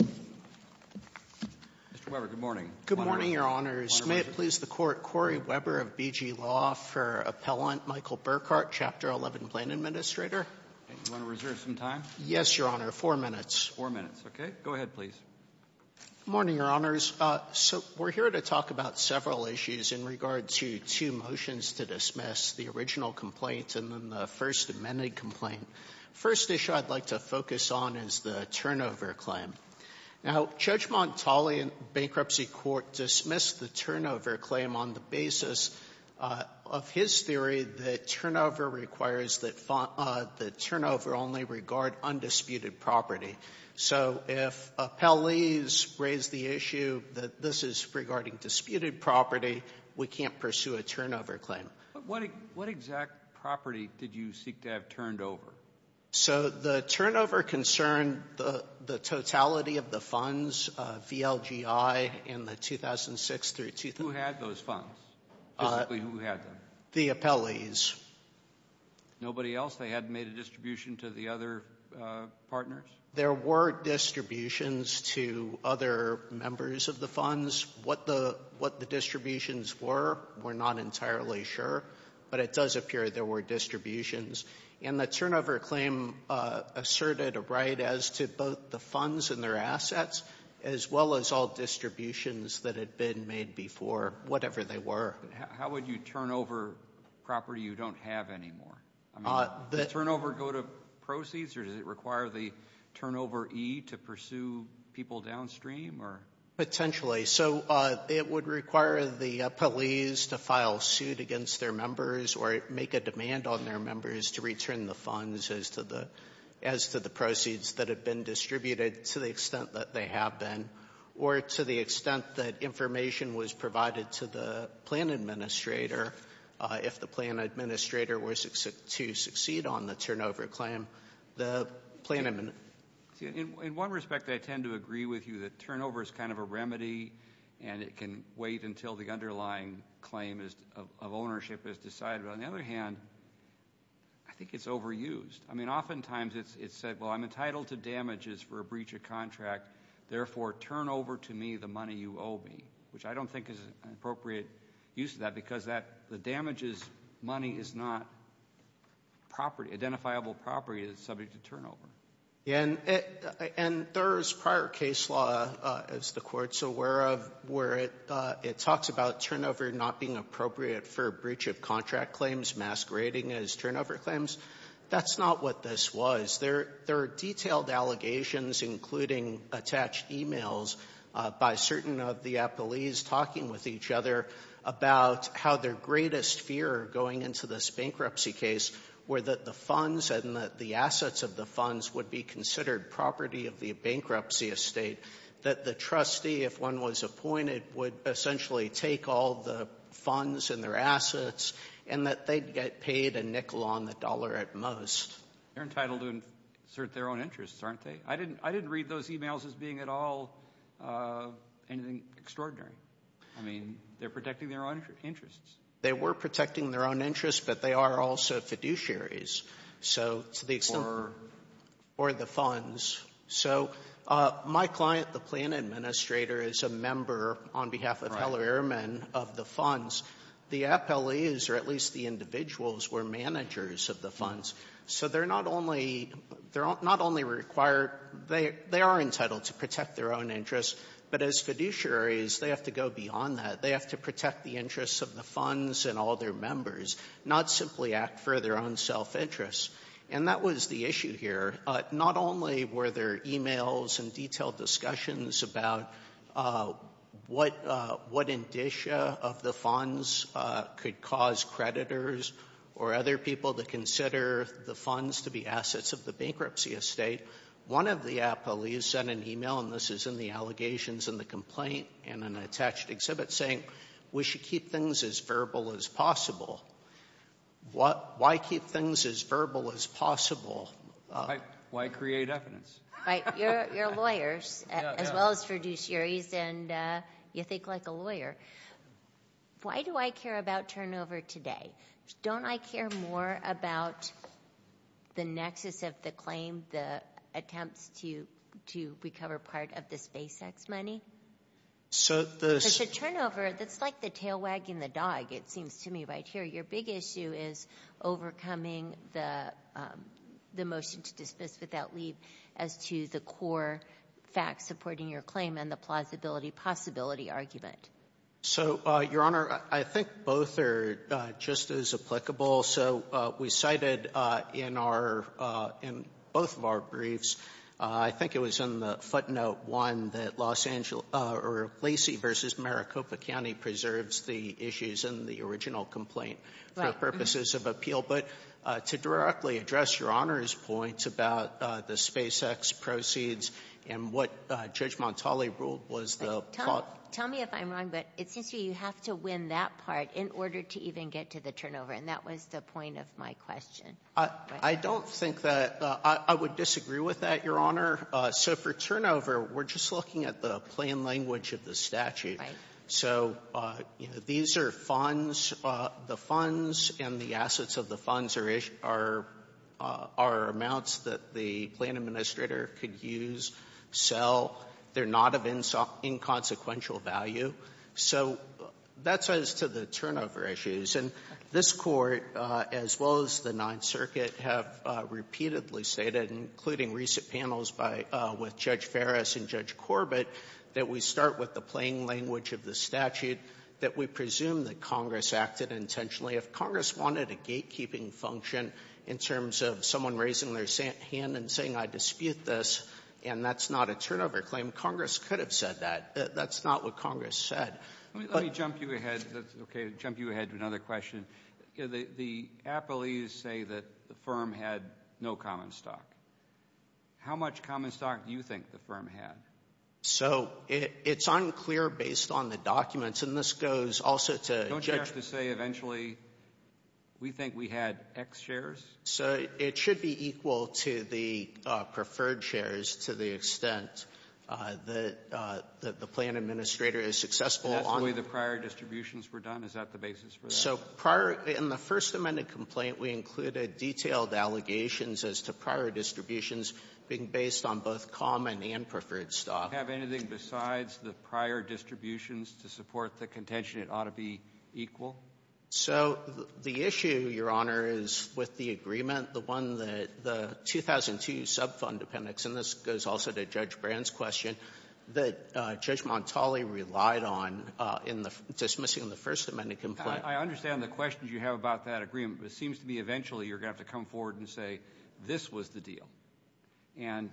Mr. Weber, good morning. Good morning, Your Honors. May it please the Court, Corey Weber of BG Law for Appellant Michael Burkhart, Chapter 11, Plain Administrator. You want to reserve some time? Yes, Your Honor. Four minutes. Four minutes. Okay. Go ahead, please. Good morning, Your Honors. So, we're here to talk about several issues in regard to two motions to dismiss, the original complaint and then the First Amendment complaint. The first issue I'd like to focus on is the turnover claim. Now, Judge Montali in bankruptcy court dismissed the turnover claim on the basis of his theory that turnover requires that turnover only regard undisputed property. So, if appellees raise the issue that this is regarding disputed property, we can't pursue a turnover claim. But what exact property did you seek to have turned over? So, the turnover concerned the totality of the funds, VLGI, in the 2006 through 2008. Who had those funds? Basically, who had them? The appellees. Nobody else? They hadn't made a distribution to the other partners? There were distributions to other members of the funds. What the distributions were, we're not entirely sure. But it does appear there were distributions. And the turnover claim asserted a right as to both the funds and their assets, as well as all distributions that had been made before, whatever they were. How would you turnover property you don't have anymore? Does turnover go to proceeds, or does it require the turnoveree to pursue people downstream? Potentially. So, it would require the appellees to file suit against their members or make a demand on their members to return the funds as to the proceeds that have been distributed to the extent that they have been, or to the extent that information was provided to the plan administrator, if the plan administrator were to succeed on the turnover claim. In one respect, I tend to agree with you that turnover is kind of a remedy, and it can wait until the underlying claim of ownership is decided. But on the other hand, I think it's overused. I mean, oftentimes it's said, well, I'm entitled to damages for a breach of contract, therefore, turn over to me the money you owe me, which I don't think is an appropriate use of that because the damages money is not identifiable property that's subject to turnover. And there's prior case law, as the Court's aware of, where it talks about turnover not being appropriate for a breach of contract claims masquerading as turnover claims. That's not what this was. There are detailed allegations, including attached emails by certain of the appellees talking with each other about how their greatest fear going into this bankruptcy case were that the funds and the assets of the funds would be considered property of the bankruptcy estate, that the trustee, if one was appointed, would essentially take all the funds and their assets, and that they'd get paid a nickel on the dollar at most. They're entitled to insert their own interests, aren't they? I didn't read those emails as being at all anything extraordinary. I mean, they're protecting their own interests. They were protecting their own interests, but they are also fiduciaries, so to the extent of the funds. So my client, the plan administrator, is a member, on behalf of Heller-Ehrman, of the funds. The appellees, or at least the individuals, were managers of the funds. So they're not only required they are entitled to protect their own interests, but as fiduciaries, they have to go beyond that. They have to protect the interests of the funds and all their members, not simply act for their own self-interests. And that was the issue here. Not only were there emails and detailed discussions about what indicia of the funds could cause creditors or other people to consider the funds to be assets of the bankruptcy estate, one of the appellees sent an email, and this is in the allegations and the complaint and an attached exhibit, saying, we should keep things as verbal as possible. Why keep things as verbal as possible? Why create evidence? You're lawyers, as well as fiduciaries, and you think like a lawyer. Why do I care about turnover today? Don't I care more about the nexus of the claim, the attempts to recover part of the SpaceX money? There's a turnover that's like the tail wagging the dog, it seems to me, right here. Your big issue is overcoming the motion to dismiss without leave as to the core facts supporting your claim and the plausibility-possibility argument. So, Your Honor, I think both are just as applicable. So, we cited in both of our briefs, I think it was in the footnote one, that Lacey v. Maricopa County preserves the issues in the original complaint for purposes of appeal. But to directly address Your Honor's point about the SpaceX proceeds and what Judge Montali ruled was the- Tell me if I'm wrong, but it seems to me you have to win that part in order to even get to the turnover, and that was the point of my question. I don't think that- I would disagree with that, Your Honor. So, for turnover, we're just looking at the plain language of the statute. Right. So, these are funds. The funds and the assets of the funds are amounts that the plan administrator could use, sell. They're not of inconsequential value. So, that's as to the turnover issues. And this Court, as well as the Ninth Circuit, have repeatedly stated, including recent panels by-with Judge Ferris and Judge Corbett, that we start with the plain language of the statute, that we presume that Congress acted intentionally. If Congress wanted a gatekeeping function in terms of someone raising their hand and saying, I dispute this, and that's not a turnover claim, Congress could have said that. That's not what Congress said. Let me jump you ahead to another question. The appellees say that the firm had no common stock. How much common stock do you think the firm had? So, it's unclear based on the documents, and this goes also to Judge- Don't you have to say, eventually, we think we had X shares? So, it should be equal to the preferred shares to the extent that the plan administrator is successful on- And that's the way the prior distributions were done? Is that the basis for that? So, prior to the First Amendment complaint, we included detailed allegations as to prior distributions being based on both common and preferred stock. Do you have anything besides the prior distributions to support the contention it ought to be equal? So, the issue, Your Honor, is with the agreement, the one that the 2002 subfund appendix, and this goes also to Judge Brand's question, that Judge Montali relied on in dismissing the First Amendment complaint. I understand the questions you have about that agreement, but it seems to me eventually you're going to have to come forward and say, this was the deal. And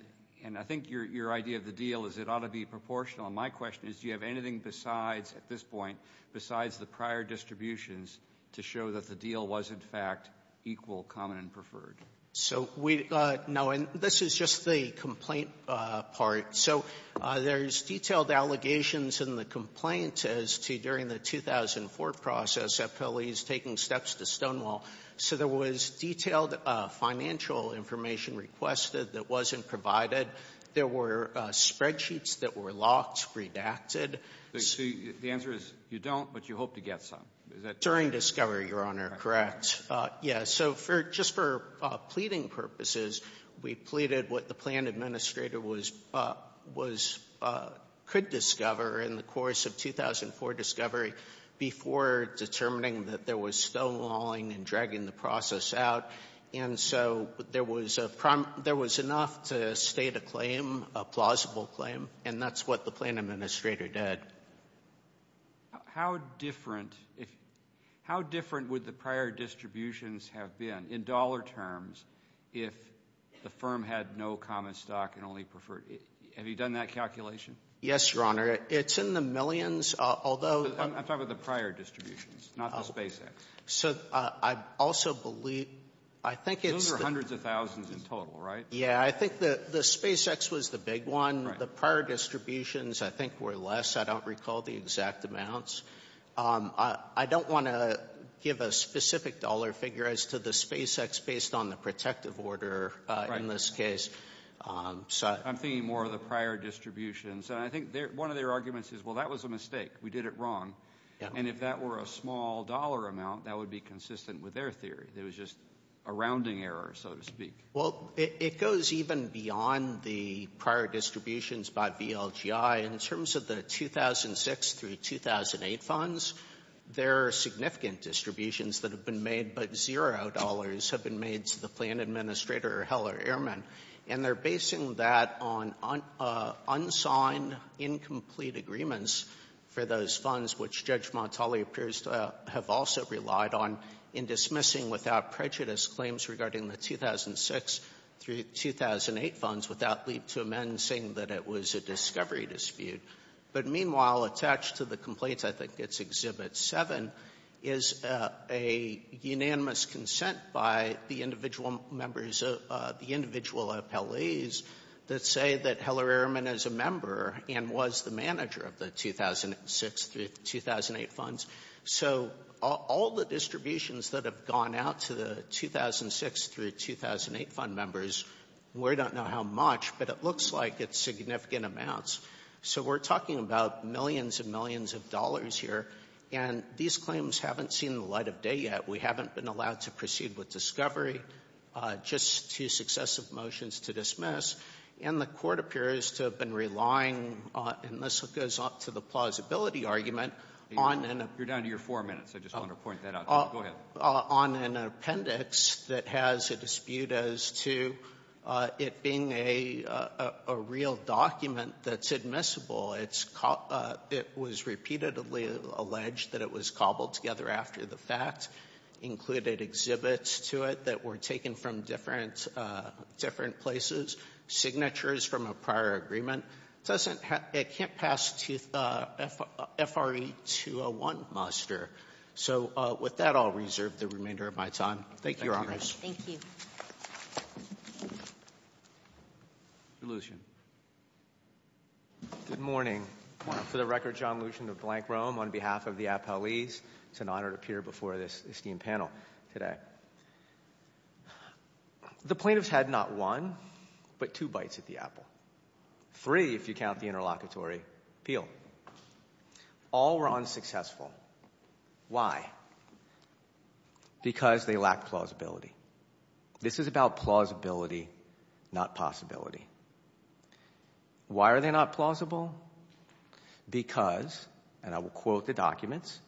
I think your idea of the deal is it ought to be proportional, and my question is, do you have anything besides, at this point, besides the prior distributions to show that the deal was, in fact, equal common and preferred? So, we, no, and this is just the complaint part. So, there's detailed allegations in the complaint as to during the 2004 process at Pele's taking steps to Stonewall. So, there was detailed financial information requested that wasn't provided. There were spreadsheets that were locked, redacted. So, the answer is, you don't, but you hope to get some. During discovery, Your Honor, correct. Yeah, so, just for pleading purposes, we pleaded what the plan administrator could discover in the course of 2004 discovery before determining that there was Stonewalling and dragging the process out. And so, there was enough to state a claim, a plausible claim, and that's what the plan administrator did. How different would the prior distributions have been in dollar terms if the firm had no common stock and only preferred? Have you done that calculation? Yes, Your Honor. It's in the millions, although... I'm talking about the prior distributions, not the SpaceX. So, I also believe, I think it's... Those are hundreds of thousands in total, right? Yeah, I think the SpaceX was the big one. The prior distributions, I think, were less. I don't recall the exact amounts. I don't want to give a specific dollar figure as to the SpaceX based on the protective order in this case. I'm thinking more of the prior distributions. I think one of their arguments is, well, that was a mistake. We did it wrong. And if that were a small dollar amount, that would be consistent with their theory. It was just a rounding error, so to speak. Well, it goes even beyond the prior distributions by VLGI. In terms of the 2006 through 2008 funds, there are significant distributions that have been made, but zero dollars have been made to the plan administrator, or Heller-Ehrman, and they're basing that on unsigned, incomplete agreements for those funds, which Judge Montali appears to have also relied on, in dismissing without prejudice claims regarding the 2006 through 2008 funds without leap to amend saying that it was a discovery dispute. But meanwhile, attached to the complaints, I think it's Exhibit 7, is a unanimous consent by the individual members of the individual appellees that say that Heller-Ehrman is a member and was the manager of the 2006 through 2008 funds. So all the distributions that have gone out to the 2006 through 2008 fund members, we don't know how much, but it looks like it's significant amounts. So we're talking about millions and millions of dollars here, and these claims haven't seen the light of day yet. We haven't been allowed to proceed with discovery. Just two successive motions to dismiss, and the Court appears to have been relying on, and this goes to the plausibility argument, on an appendix that has a dispute as to it being a real document that's admissible. It was repeatedly alleged that it was cobbled together after the fact, included exhibits to it that were taken from different places, signatures from a prior agreement. It can't pass FRE-201 muster. So with that, I'll reserve the remainder of my time. Thank you, Your Honors. Thank you. Lucien. Good morning. Good morning. For the record, John Lucien of Blank Rome, on behalf of the appellees, it's an honor to appear before this esteemed panel today. The plaintiffs had not one but two bites at the apple, three if you count the interlocutory appeal. All were unsuccessful. Why? Because they lacked plausibility. This is about plausibility, not possibility. Why are they not plausible? Because, and I will quote the documents,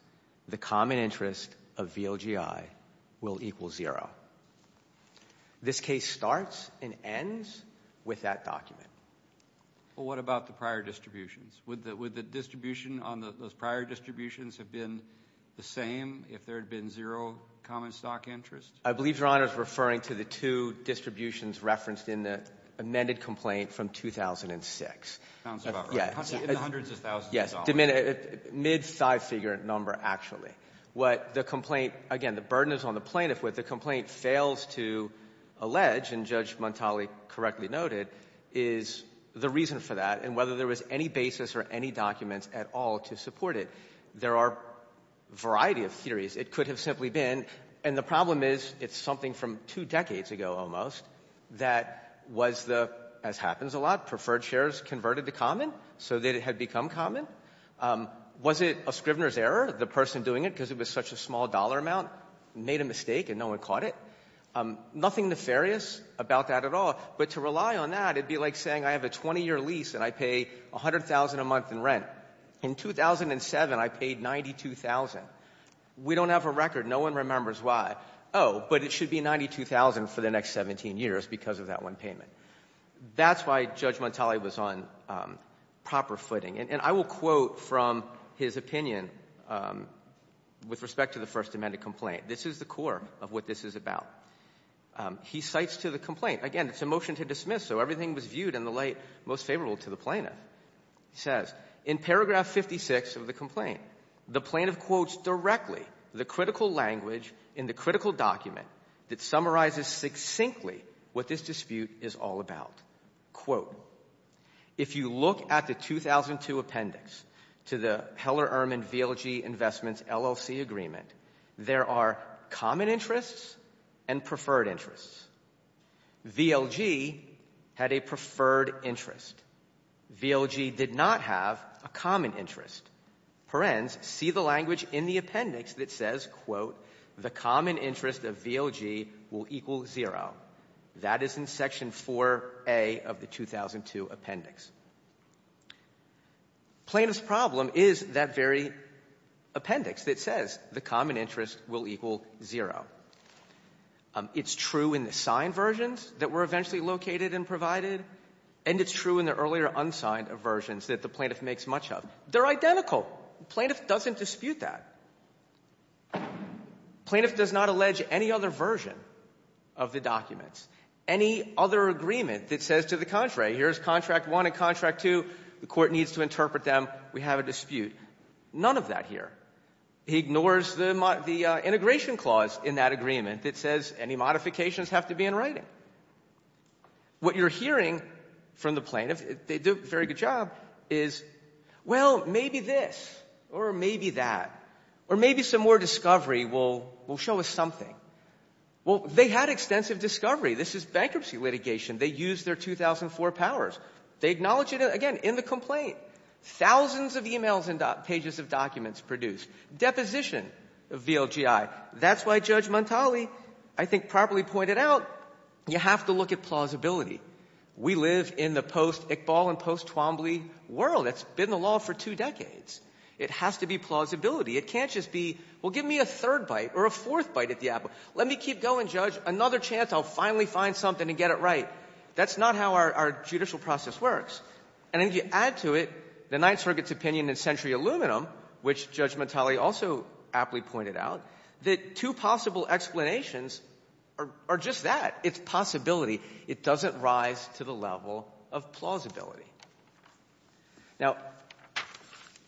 the common interest of VLGI will equal zero. This case starts and ends with that document. What about the prior distributions? Would the distribution on those prior distributions have been the same if there had been zero common stock interest? I believe Your Honor is referring to the two distributions referenced in the amended complaint from 2006. Sounds about right. In the hundreds of thousands of dollars. Yes, mid five-figure number actually. What the complaint, again, the burden is on the plaintiff. What the complaint fails to allege, and Judge Montali correctly noted, is the reason for that and whether there was any basis or any documents at all to support it. There are a variety of theories. It could have simply been, and the problem is it's something from two decades ago almost that was the, as happens a lot, preferred shares converted to common so that it had become common. Was it a scrivener's error, the person doing it, because it was such a small dollar amount made a mistake and no one caught it? Nothing nefarious about that at all, but to rely on that, it would be like saying I have a 20-year lease and I pay $100,000 a month in rent. In 2007, I paid $92,000. We don't have a record. No one remembers why. Oh, but it should be $92,000 for the next 17 years because of that one payment. That's why Judge Montali was on proper footing. And I will quote from his opinion with respect to the First Amendment complaint. This is the core of what this is about. He cites to the complaint, again, it's a motion to dismiss, so everything was viewed in the light most favorable to the plaintiff. He says, in paragraph 56 of the complaint, the plaintiff quotes directly the critical language in the critical document that summarizes succinctly what this dispute is all about. Quote, if you look at the 2002 appendix to the Heller-Ehrman VLG Investments LLC agreement, there are common interests and preferred interests. VLG had a preferred interest. VLG did not have a common interest. Parens see the language in the appendix that says, quote, the common interest of VLG will equal zero. That is in section 4A of the 2002 appendix. Plaintiff's problem is that very appendix that says the common interest will equal zero. It's true in the signed versions that were eventually located and provided, and it's true in the earlier unsigned versions that the plaintiff makes much of. They're identical. No, the plaintiff doesn't dispute that. The plaintiff does not allege any other version of the documents, any other agreement that says to the contrary, here's contract 1 and contract 2. The court needs to interpret them. We have a dispute. None of that here. He ignores the integration clause in that agreement that says any modifications have to be in writing. What you're hearing from the plaintiff, they do a very good job, is, well, maybe this, or maybe that, or maybe some more discovery will show us something. Well, they had extensive discovery. This is bankruptcy litigation. They used their 2004 powers. They acknowledge it, again, in the complaint. Thousands of e-mails and pages of documents produced. Deposition of VLGI. That's why Judge Montali I think properly pointed out you have to look at plausibility. We live in the post-Iqbal and post-Twombly world. It's been the law for two decades. It has to be plausibility. It can't just be, well, give me a third bite or a fourth bite at the apple. Let me keep going, Judge. Another chance I'll finally find something and get it right. That's not how our judicial process works. And if you add to it the Ninth Circuit's opinion in Century Aluminum, which Judge Montali also aptly pointed out, that two possible explanations are just that. It's possibility. It doesn't rise to the level of plausibility. Now,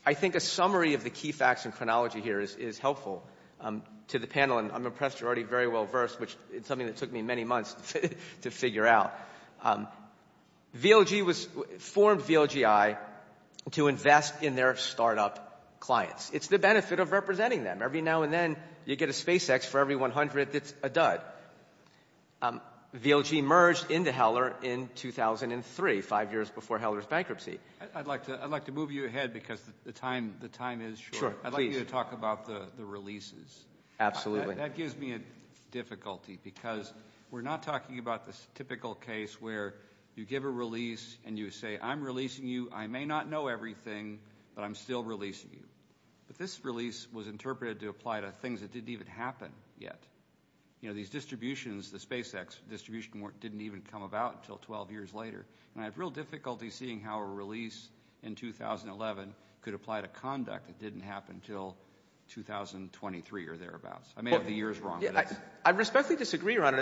I think a summary of the key facts and chronology here is helpful to the panel, and I'm impressed you're already very well versed, which is something that took me many months to figure out. VLG was formed, VLGI, to invest in their startup clients. It's the benefit of representing them. Every now and then you get a SpaceX for every 100 that's a dud. VLG merged into Heller in 2003, five years before Heller's bankruptcy. I'd like to move you ahead because the time is short. I'd like you to talk about the releases. Absolutely. That gives me a difficulty because we're not talking about this typical case where you give a release and you say, I'm releasing you. I may not know everything, but I'm still releasing you. But this release was interpreted to apply to things that didn't even happen yet. You know, these distributions, the SpaceX distribution didn't even come about until 12 years later. And I have real difficulty seeing how a release in 2011 could apply to conduct that didn't happen until 2023 or thereabouts. I may have the years wrong. I respectfully disagree, Your Honor.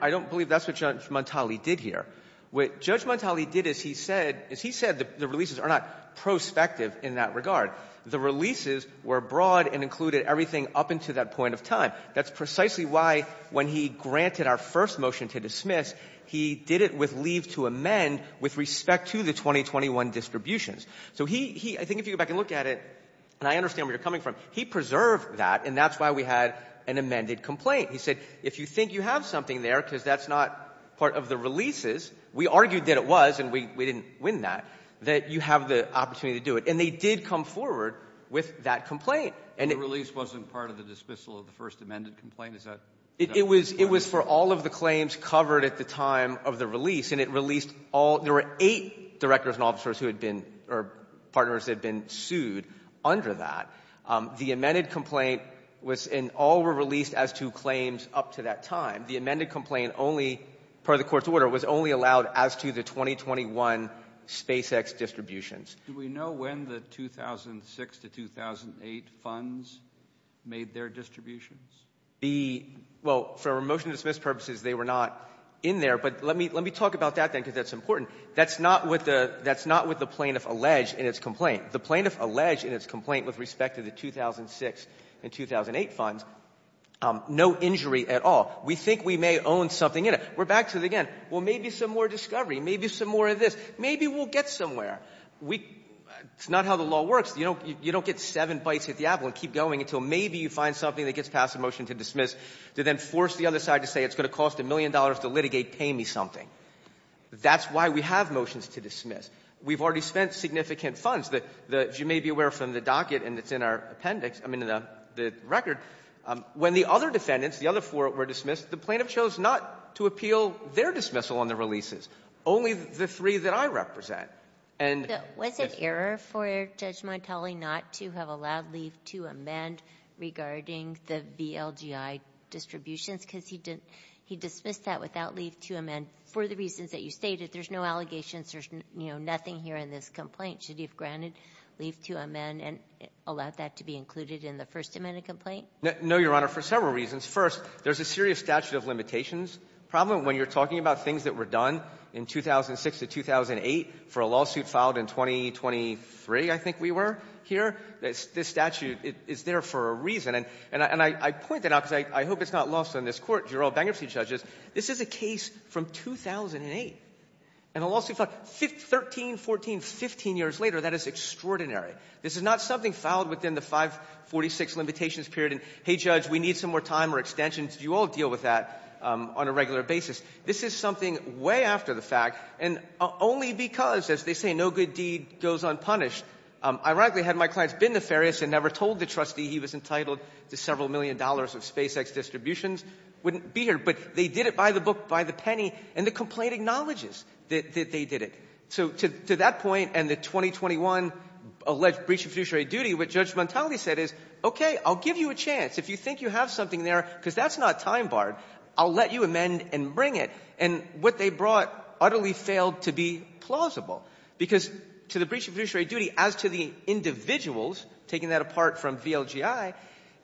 I don't believe that's what Judge Montali did here. What Judge Montali did is he said the releases are not prospective in that regard. The releases were broad and included everything up until that point of time. That's precisely why when he granted our first motion to dismiss, he did it with leave to amend with respect to the 2021 distributions. So he — I think if you go back and look at it, and I understand where you're coming from, he preserved that, and that's why we had an amended complaint. He said if you think you have something there because that's not part of the releases, we argued that it was and we didn't win that, that you have the opportunity to do it. And they did come forward with that complaint. The release wasn't part of the dismissal of the first amended complaint? Is that correct? It was for all of the claims covered at the time of the release. And it released all — there were eight directors and officers who had been — or partners that had been sued under that. The amended complaint was — and all were released as to claims up to that time. The amended complaint only, per the court's order, was only allowed as to the 2021 SpaceX distributions. Do we know when the 2006 to 2008 funds made their distributions? The — well, for motion to dismiss purposes, they were not in there. But let me talk about that, then, because that's important. That's not what the — that's not what the plaintiff alleged in its complaint. The plaintiff alleged in its complaint with respect to the 2006 and 2008 funds no injury at all. We think we may own something in it. We're back to, again, well, maybe some more discovery, maybe some more of this. Maybe we'll get somewhere. We — it's not how the law works. You don't get seven bites at the apple and keep going until maybe you find something that gets passed in motion to dismiss, to then force the other side to say it's going to cost a million dollars to litigate, pay me something. That's why we have motions to dismiss. We've already spent significant funds. As you may be aware from the docket, and it's in our appendix — I mean, the record, when the other defendants, the other four, were dismissed, the plaintiff chose not to appeal their dismissal on the releases. Only the three that I represent, and — Was it error for Judge Montali not to have allowed leave to amend regarding the VLGI distributions? Because he dismissed that without leave to amend for the reasons that you stated. There's no allegations. There's, you know, nothing here in this complaint. Should he have granted leave to amend and allowed that to be included in the First Amendment complaint? No, Your Honor, for several reasons. First, there's a serious statute of limitations problem. When you're talking about things that were done in 2006 to 2008 for a lawsuit filed in 2023, I think we were, here, this statute is there for a reason. And I point that out because I hope it's not lost on this Court, Jural bankruptcy judges. This is a case from 2008, and a lawsuit filed 13, 14, 15 years later. That is extraordinary. This is not something filed within the 546 limitations period and, hey, Judge, we need some more time or extensions. You all deal with that on a regular basis. This is something way after the fact, and only because, as they say, no good deed goes unpunished. Ironically, had my clients been nefarious and never told the trustee he was entitled to several million dollars of SpaceX distributions, wouldn't be here. But they did it by the book, by the penny, and the complaint acknowledges that they did it. So to that point and the 2021 alleged breach of fiduciary duty, what Judge Montali said is, okay, I'll give you a chance. If you think you have something there because that's not time barred, I'll let you amend and bring it. And what they brought utterly failed to be plausible because to the breach of fiduciary duty, as to the individuals taking that apart from VLGI,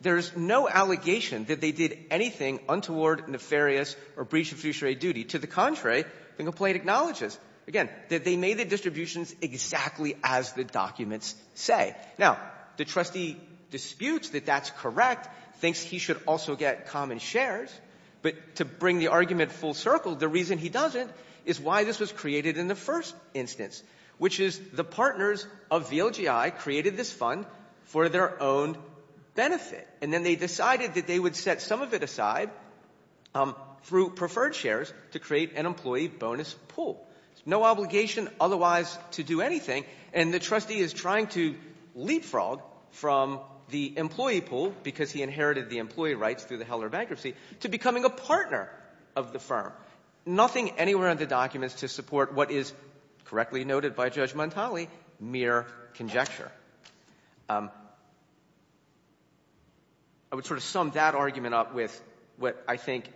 there's no allegation that they did anything untoward, nefarious, or breach of fiduciary duty. To the contrary, the complaint acknowledges, again, that they made the distributions exactly as the documents say. Now, the trustee disputes that that's correct, thinks he should also get common shares. But to bring the argument full circle, the reason he doesn't is why this was created in the first instance, which is the partners of VLGI created this fund for their own benefit. And then they decided that they would set some of it aside through preferred shares to create an employee bonus pool. No obligation otherwise to do anything. And the trustee is trying to leapfrog from the employee pool, because he inherited the employee rights through the Heller bankruptcy, to becoming a partner of the firm. Nothing anywhere in the documents to support what is, correctly noted by Judge Montali, mere conjecture. I would sort of sum that argument up with what I think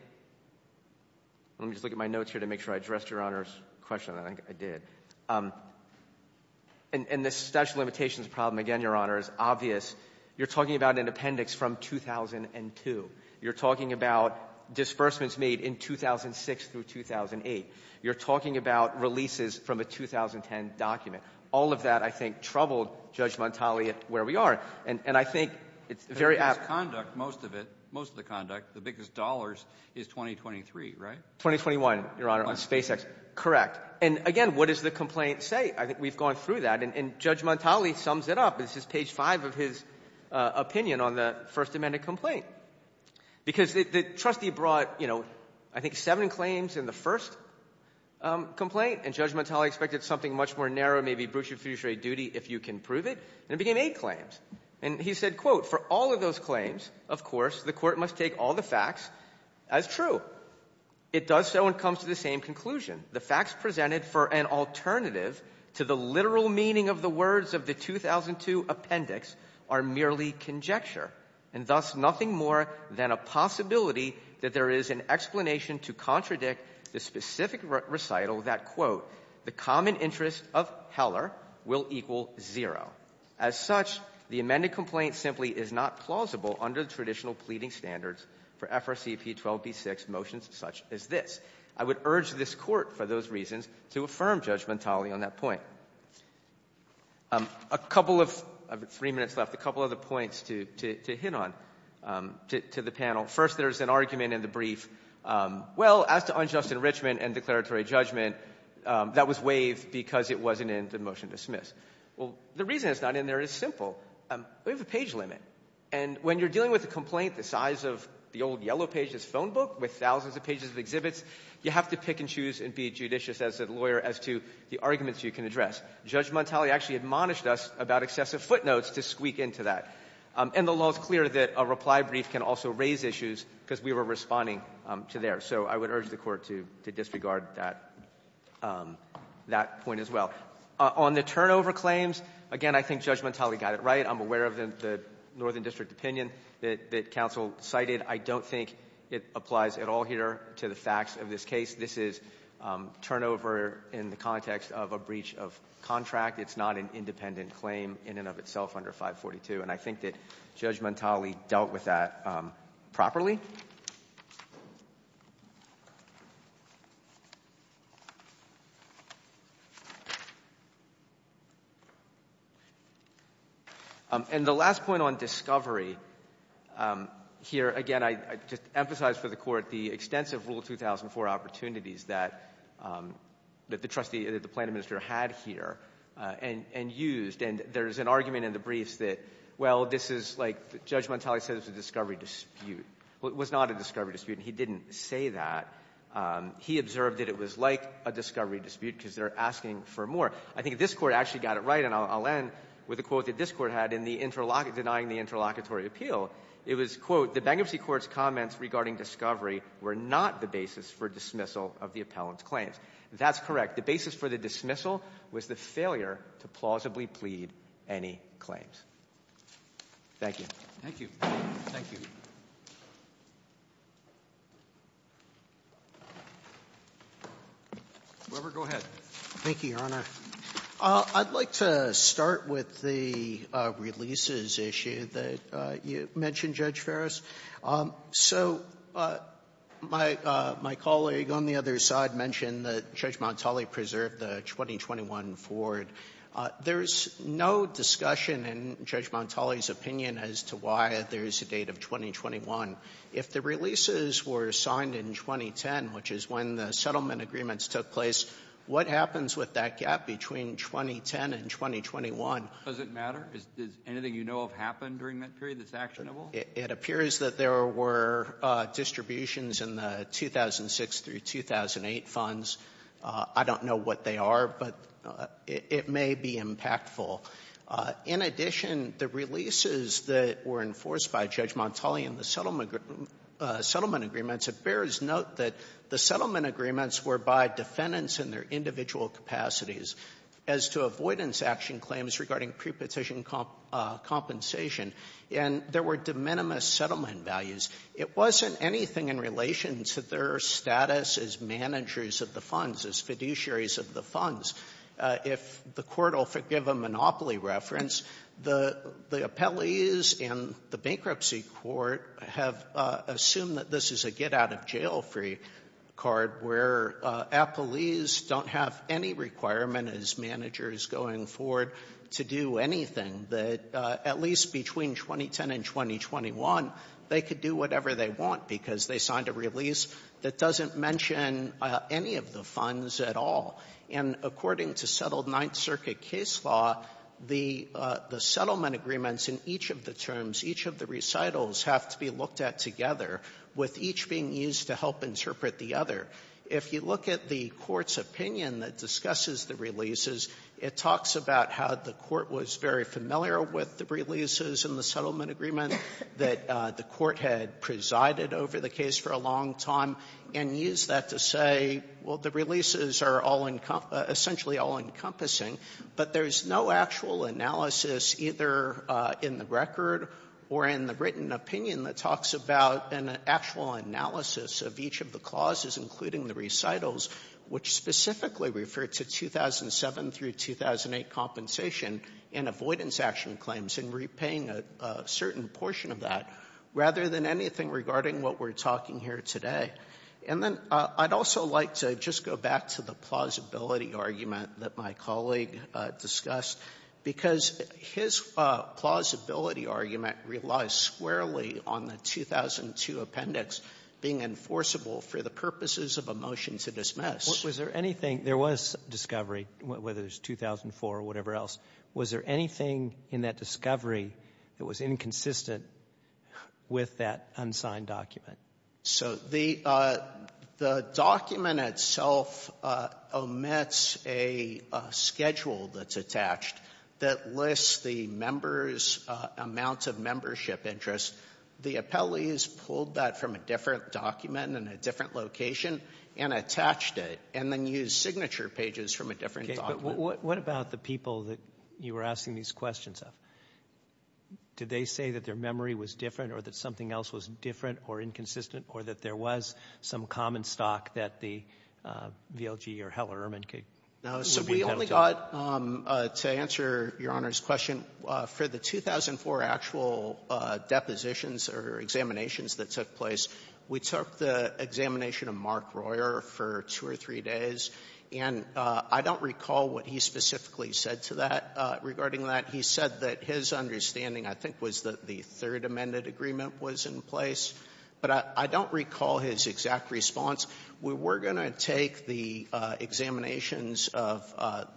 – let me just look at my notes here to make sure I addressed Your Honor's question. I think I did. And the statutory limitations problem, again, Your Honor, is obvious. You're talking about an appendix from 2002. You're talking about disbursements made in 2006 through 2008. You're talking about releases from a 2010 document. All of that, I think, troubled Judge Montali at where we are. And I think it's very apt. Most of the conduct, the biggest dollars is 2023, right? 2021, Your Honor, on SpaceX. And, again, what does the complaint say? I think we've gone through that. And Judge Montali sums it up. This is page 5 of his opinion on the First Amendment complaint. Because the trustee brought, you know, I think seven claims in the first complaint. And Judge Montali expected something much more narrow, maybe brucia fiduciary duty, if you can prove it. And it became eight claims. And he said, I have three minutes left, a couple other points to hit on to the panel. First, there's an argument in the brief. Well, as to unjust enrichment and declaratory judgment, that was waived because it wasn't in the motion to dismiss. Well, the reason it's not in there is simple. We have a page limit. And when you're dealing with a complaint the size of the old Yellow Pages phone book with thousands of pages of exhibits, you have to pick and choose and be judicious as a lawyer as to the arguments you can address. Judge Montali actually admonished us about excessive footnotes to squeak into that. And the law is clear that a reply brief can also raise issues because we were responding to theirs. So I would urge the Court to disregard that point as well. On the turnover claims, again, I think Judge Montali got it right. I'm aware of the Northern District opinion that counsel cited. I don't think it applies at all here to the facts of this case. This is turnover in the context of a breach of contract. It's not an independent claim in and of itself under 542. And I think that Judge Montali dealt with that properly. And the last point on discovery here, again, I just emphasize for the Court the extensive Rule 2004 opportunities that the trustee, that the planning minister had here and used. And there's an argument in the briefs that, well, this is like Judge Montali said it was a discovery dispute. Well, it was not a discovery dispute, and he didn't say that. He observed that it was like a discovery dispute because they're asking for more. I think this Court actually got it right, and I'll end with a quote that this Court had in denying the interlocutory appeal. It was, quote, the bankruptcy court's comments regarding discovery were not the basis for dismissal of the appellant's claims. That's correct. The basis for the dismissal was the failure to plausibly plead any claims. Thank you. Thank you. Thank you. Whoever, go ahead. Thank you, Your Honor. I'd like to start with the releases issue that you mentioned, Judge Ferris. So my colleague on the other side mentioned that Judge Montali preserved the 2021 forward. There's no discussion in Judge Montali's opinion as to why there is a date of 2021. If the releases were signed in 2010, which is when the settlement agreements took place, what happens with that gap between 2010 and 2021? Does it matter? Does anything you know have happened during that period that's actionable? It appears that there were distributions in the 2006 through 2008 funds. I don't know what they are, but it may be impactful. In addition, the releases that were enforced by Judge Montali in the settlement agreements, it bears note that the settlement agreements were by defendants in their individual capacities as to avoidance action claims regarding prepetition compensation. And there were de minimis settlement values. It wasn't anything in relation to their status as managers of the funds, as fiduciaries of the funds. If the Court will forgive a monopoly reference, the appellees in the bankruptcy court have assumed that this is a get-out-of-jail-free card, where appellees don't have any requirement as managers going forward to do anything, that at least between 2010 and 2021, they could do whatever they want because they signed a release that doesn't mention any of the funds at all. And according to settled Ninth Circuit case law, the settlement agreements in each of the terms, each of the recitals have to be looked at together, with each being used to help interpret the other. If you look at the Court's opinion that discusses the releases, it talks about how the Court was very familiar with the releases in the settlement agreement that the Court had presided over the case for a long time, and used that to say, well, the releases are all encum — or in the written opinion that talks about an actual analysis of each of the clauses, including the recitals, which specifically refer to 2007 through 2008 compensation and avoidance action claims, and repaying a certain portion of that, rather than anything regarding what we're talking here today. And then I'd also like to just go back to the plausibility argument that my colleague discussed, because his plausibility argument relies squarely on the 2002 appendix being enforceable for the purposes of a motion to dismiss. Robertson was there anything — there was discovery, whether it was 2004 or whatever else — was there anything in that discovery that was inconsistent with that unsigned document? So the document itself omits a schedule that's attached that lists the members' amounts of membership interest. The appellees pulled that from a different document in a different location and attached it, and then used signature pages from a different document. Okay. But what about the people that you were asking these questions of? Did they say that their memory was different, or that something else was different or inconsistent, or that there was some common stock that the VLG or Heller-Ehrman could be held to? So we only got — to answer Your Honor's question, for the 2004 actual depositions or examinations that took place, we took the examination of Mark Royer for two or three days. And I don't recall what he specifically said to that regarding that. He said that his understanding, I think, was that the third amended agreement was in place. But I don't recall his exact response. We were going to take the examinations of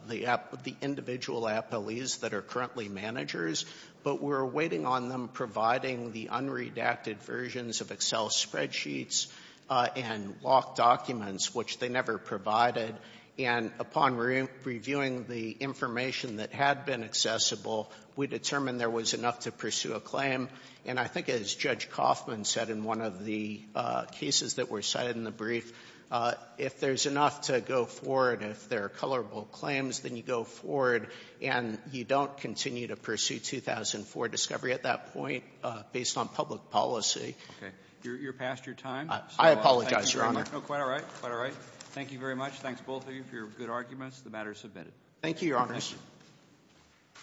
the individual appellees that are currently managers, but we were waiting on them providing the unredacted versions of Excel spreadsheets and locked documents, which they never provided. And upon reviewing the information that had been accessible, we determined there was enough to pursue a claim. And I think, as Judge Coffman said in one of the cases that were cited in the brief, if there's enough to go forward, if there are colorable claims, then you go forward and you don't continue to pursue 2004 discovery at that point based on public policy. Okay. You're past your time, so I'll thank you very much. No, quite all right. Quite all right. Thank you very much. Thanks, both of you, for your good arguments. The matter is submitted. Thank you, Your Honors. Thank you.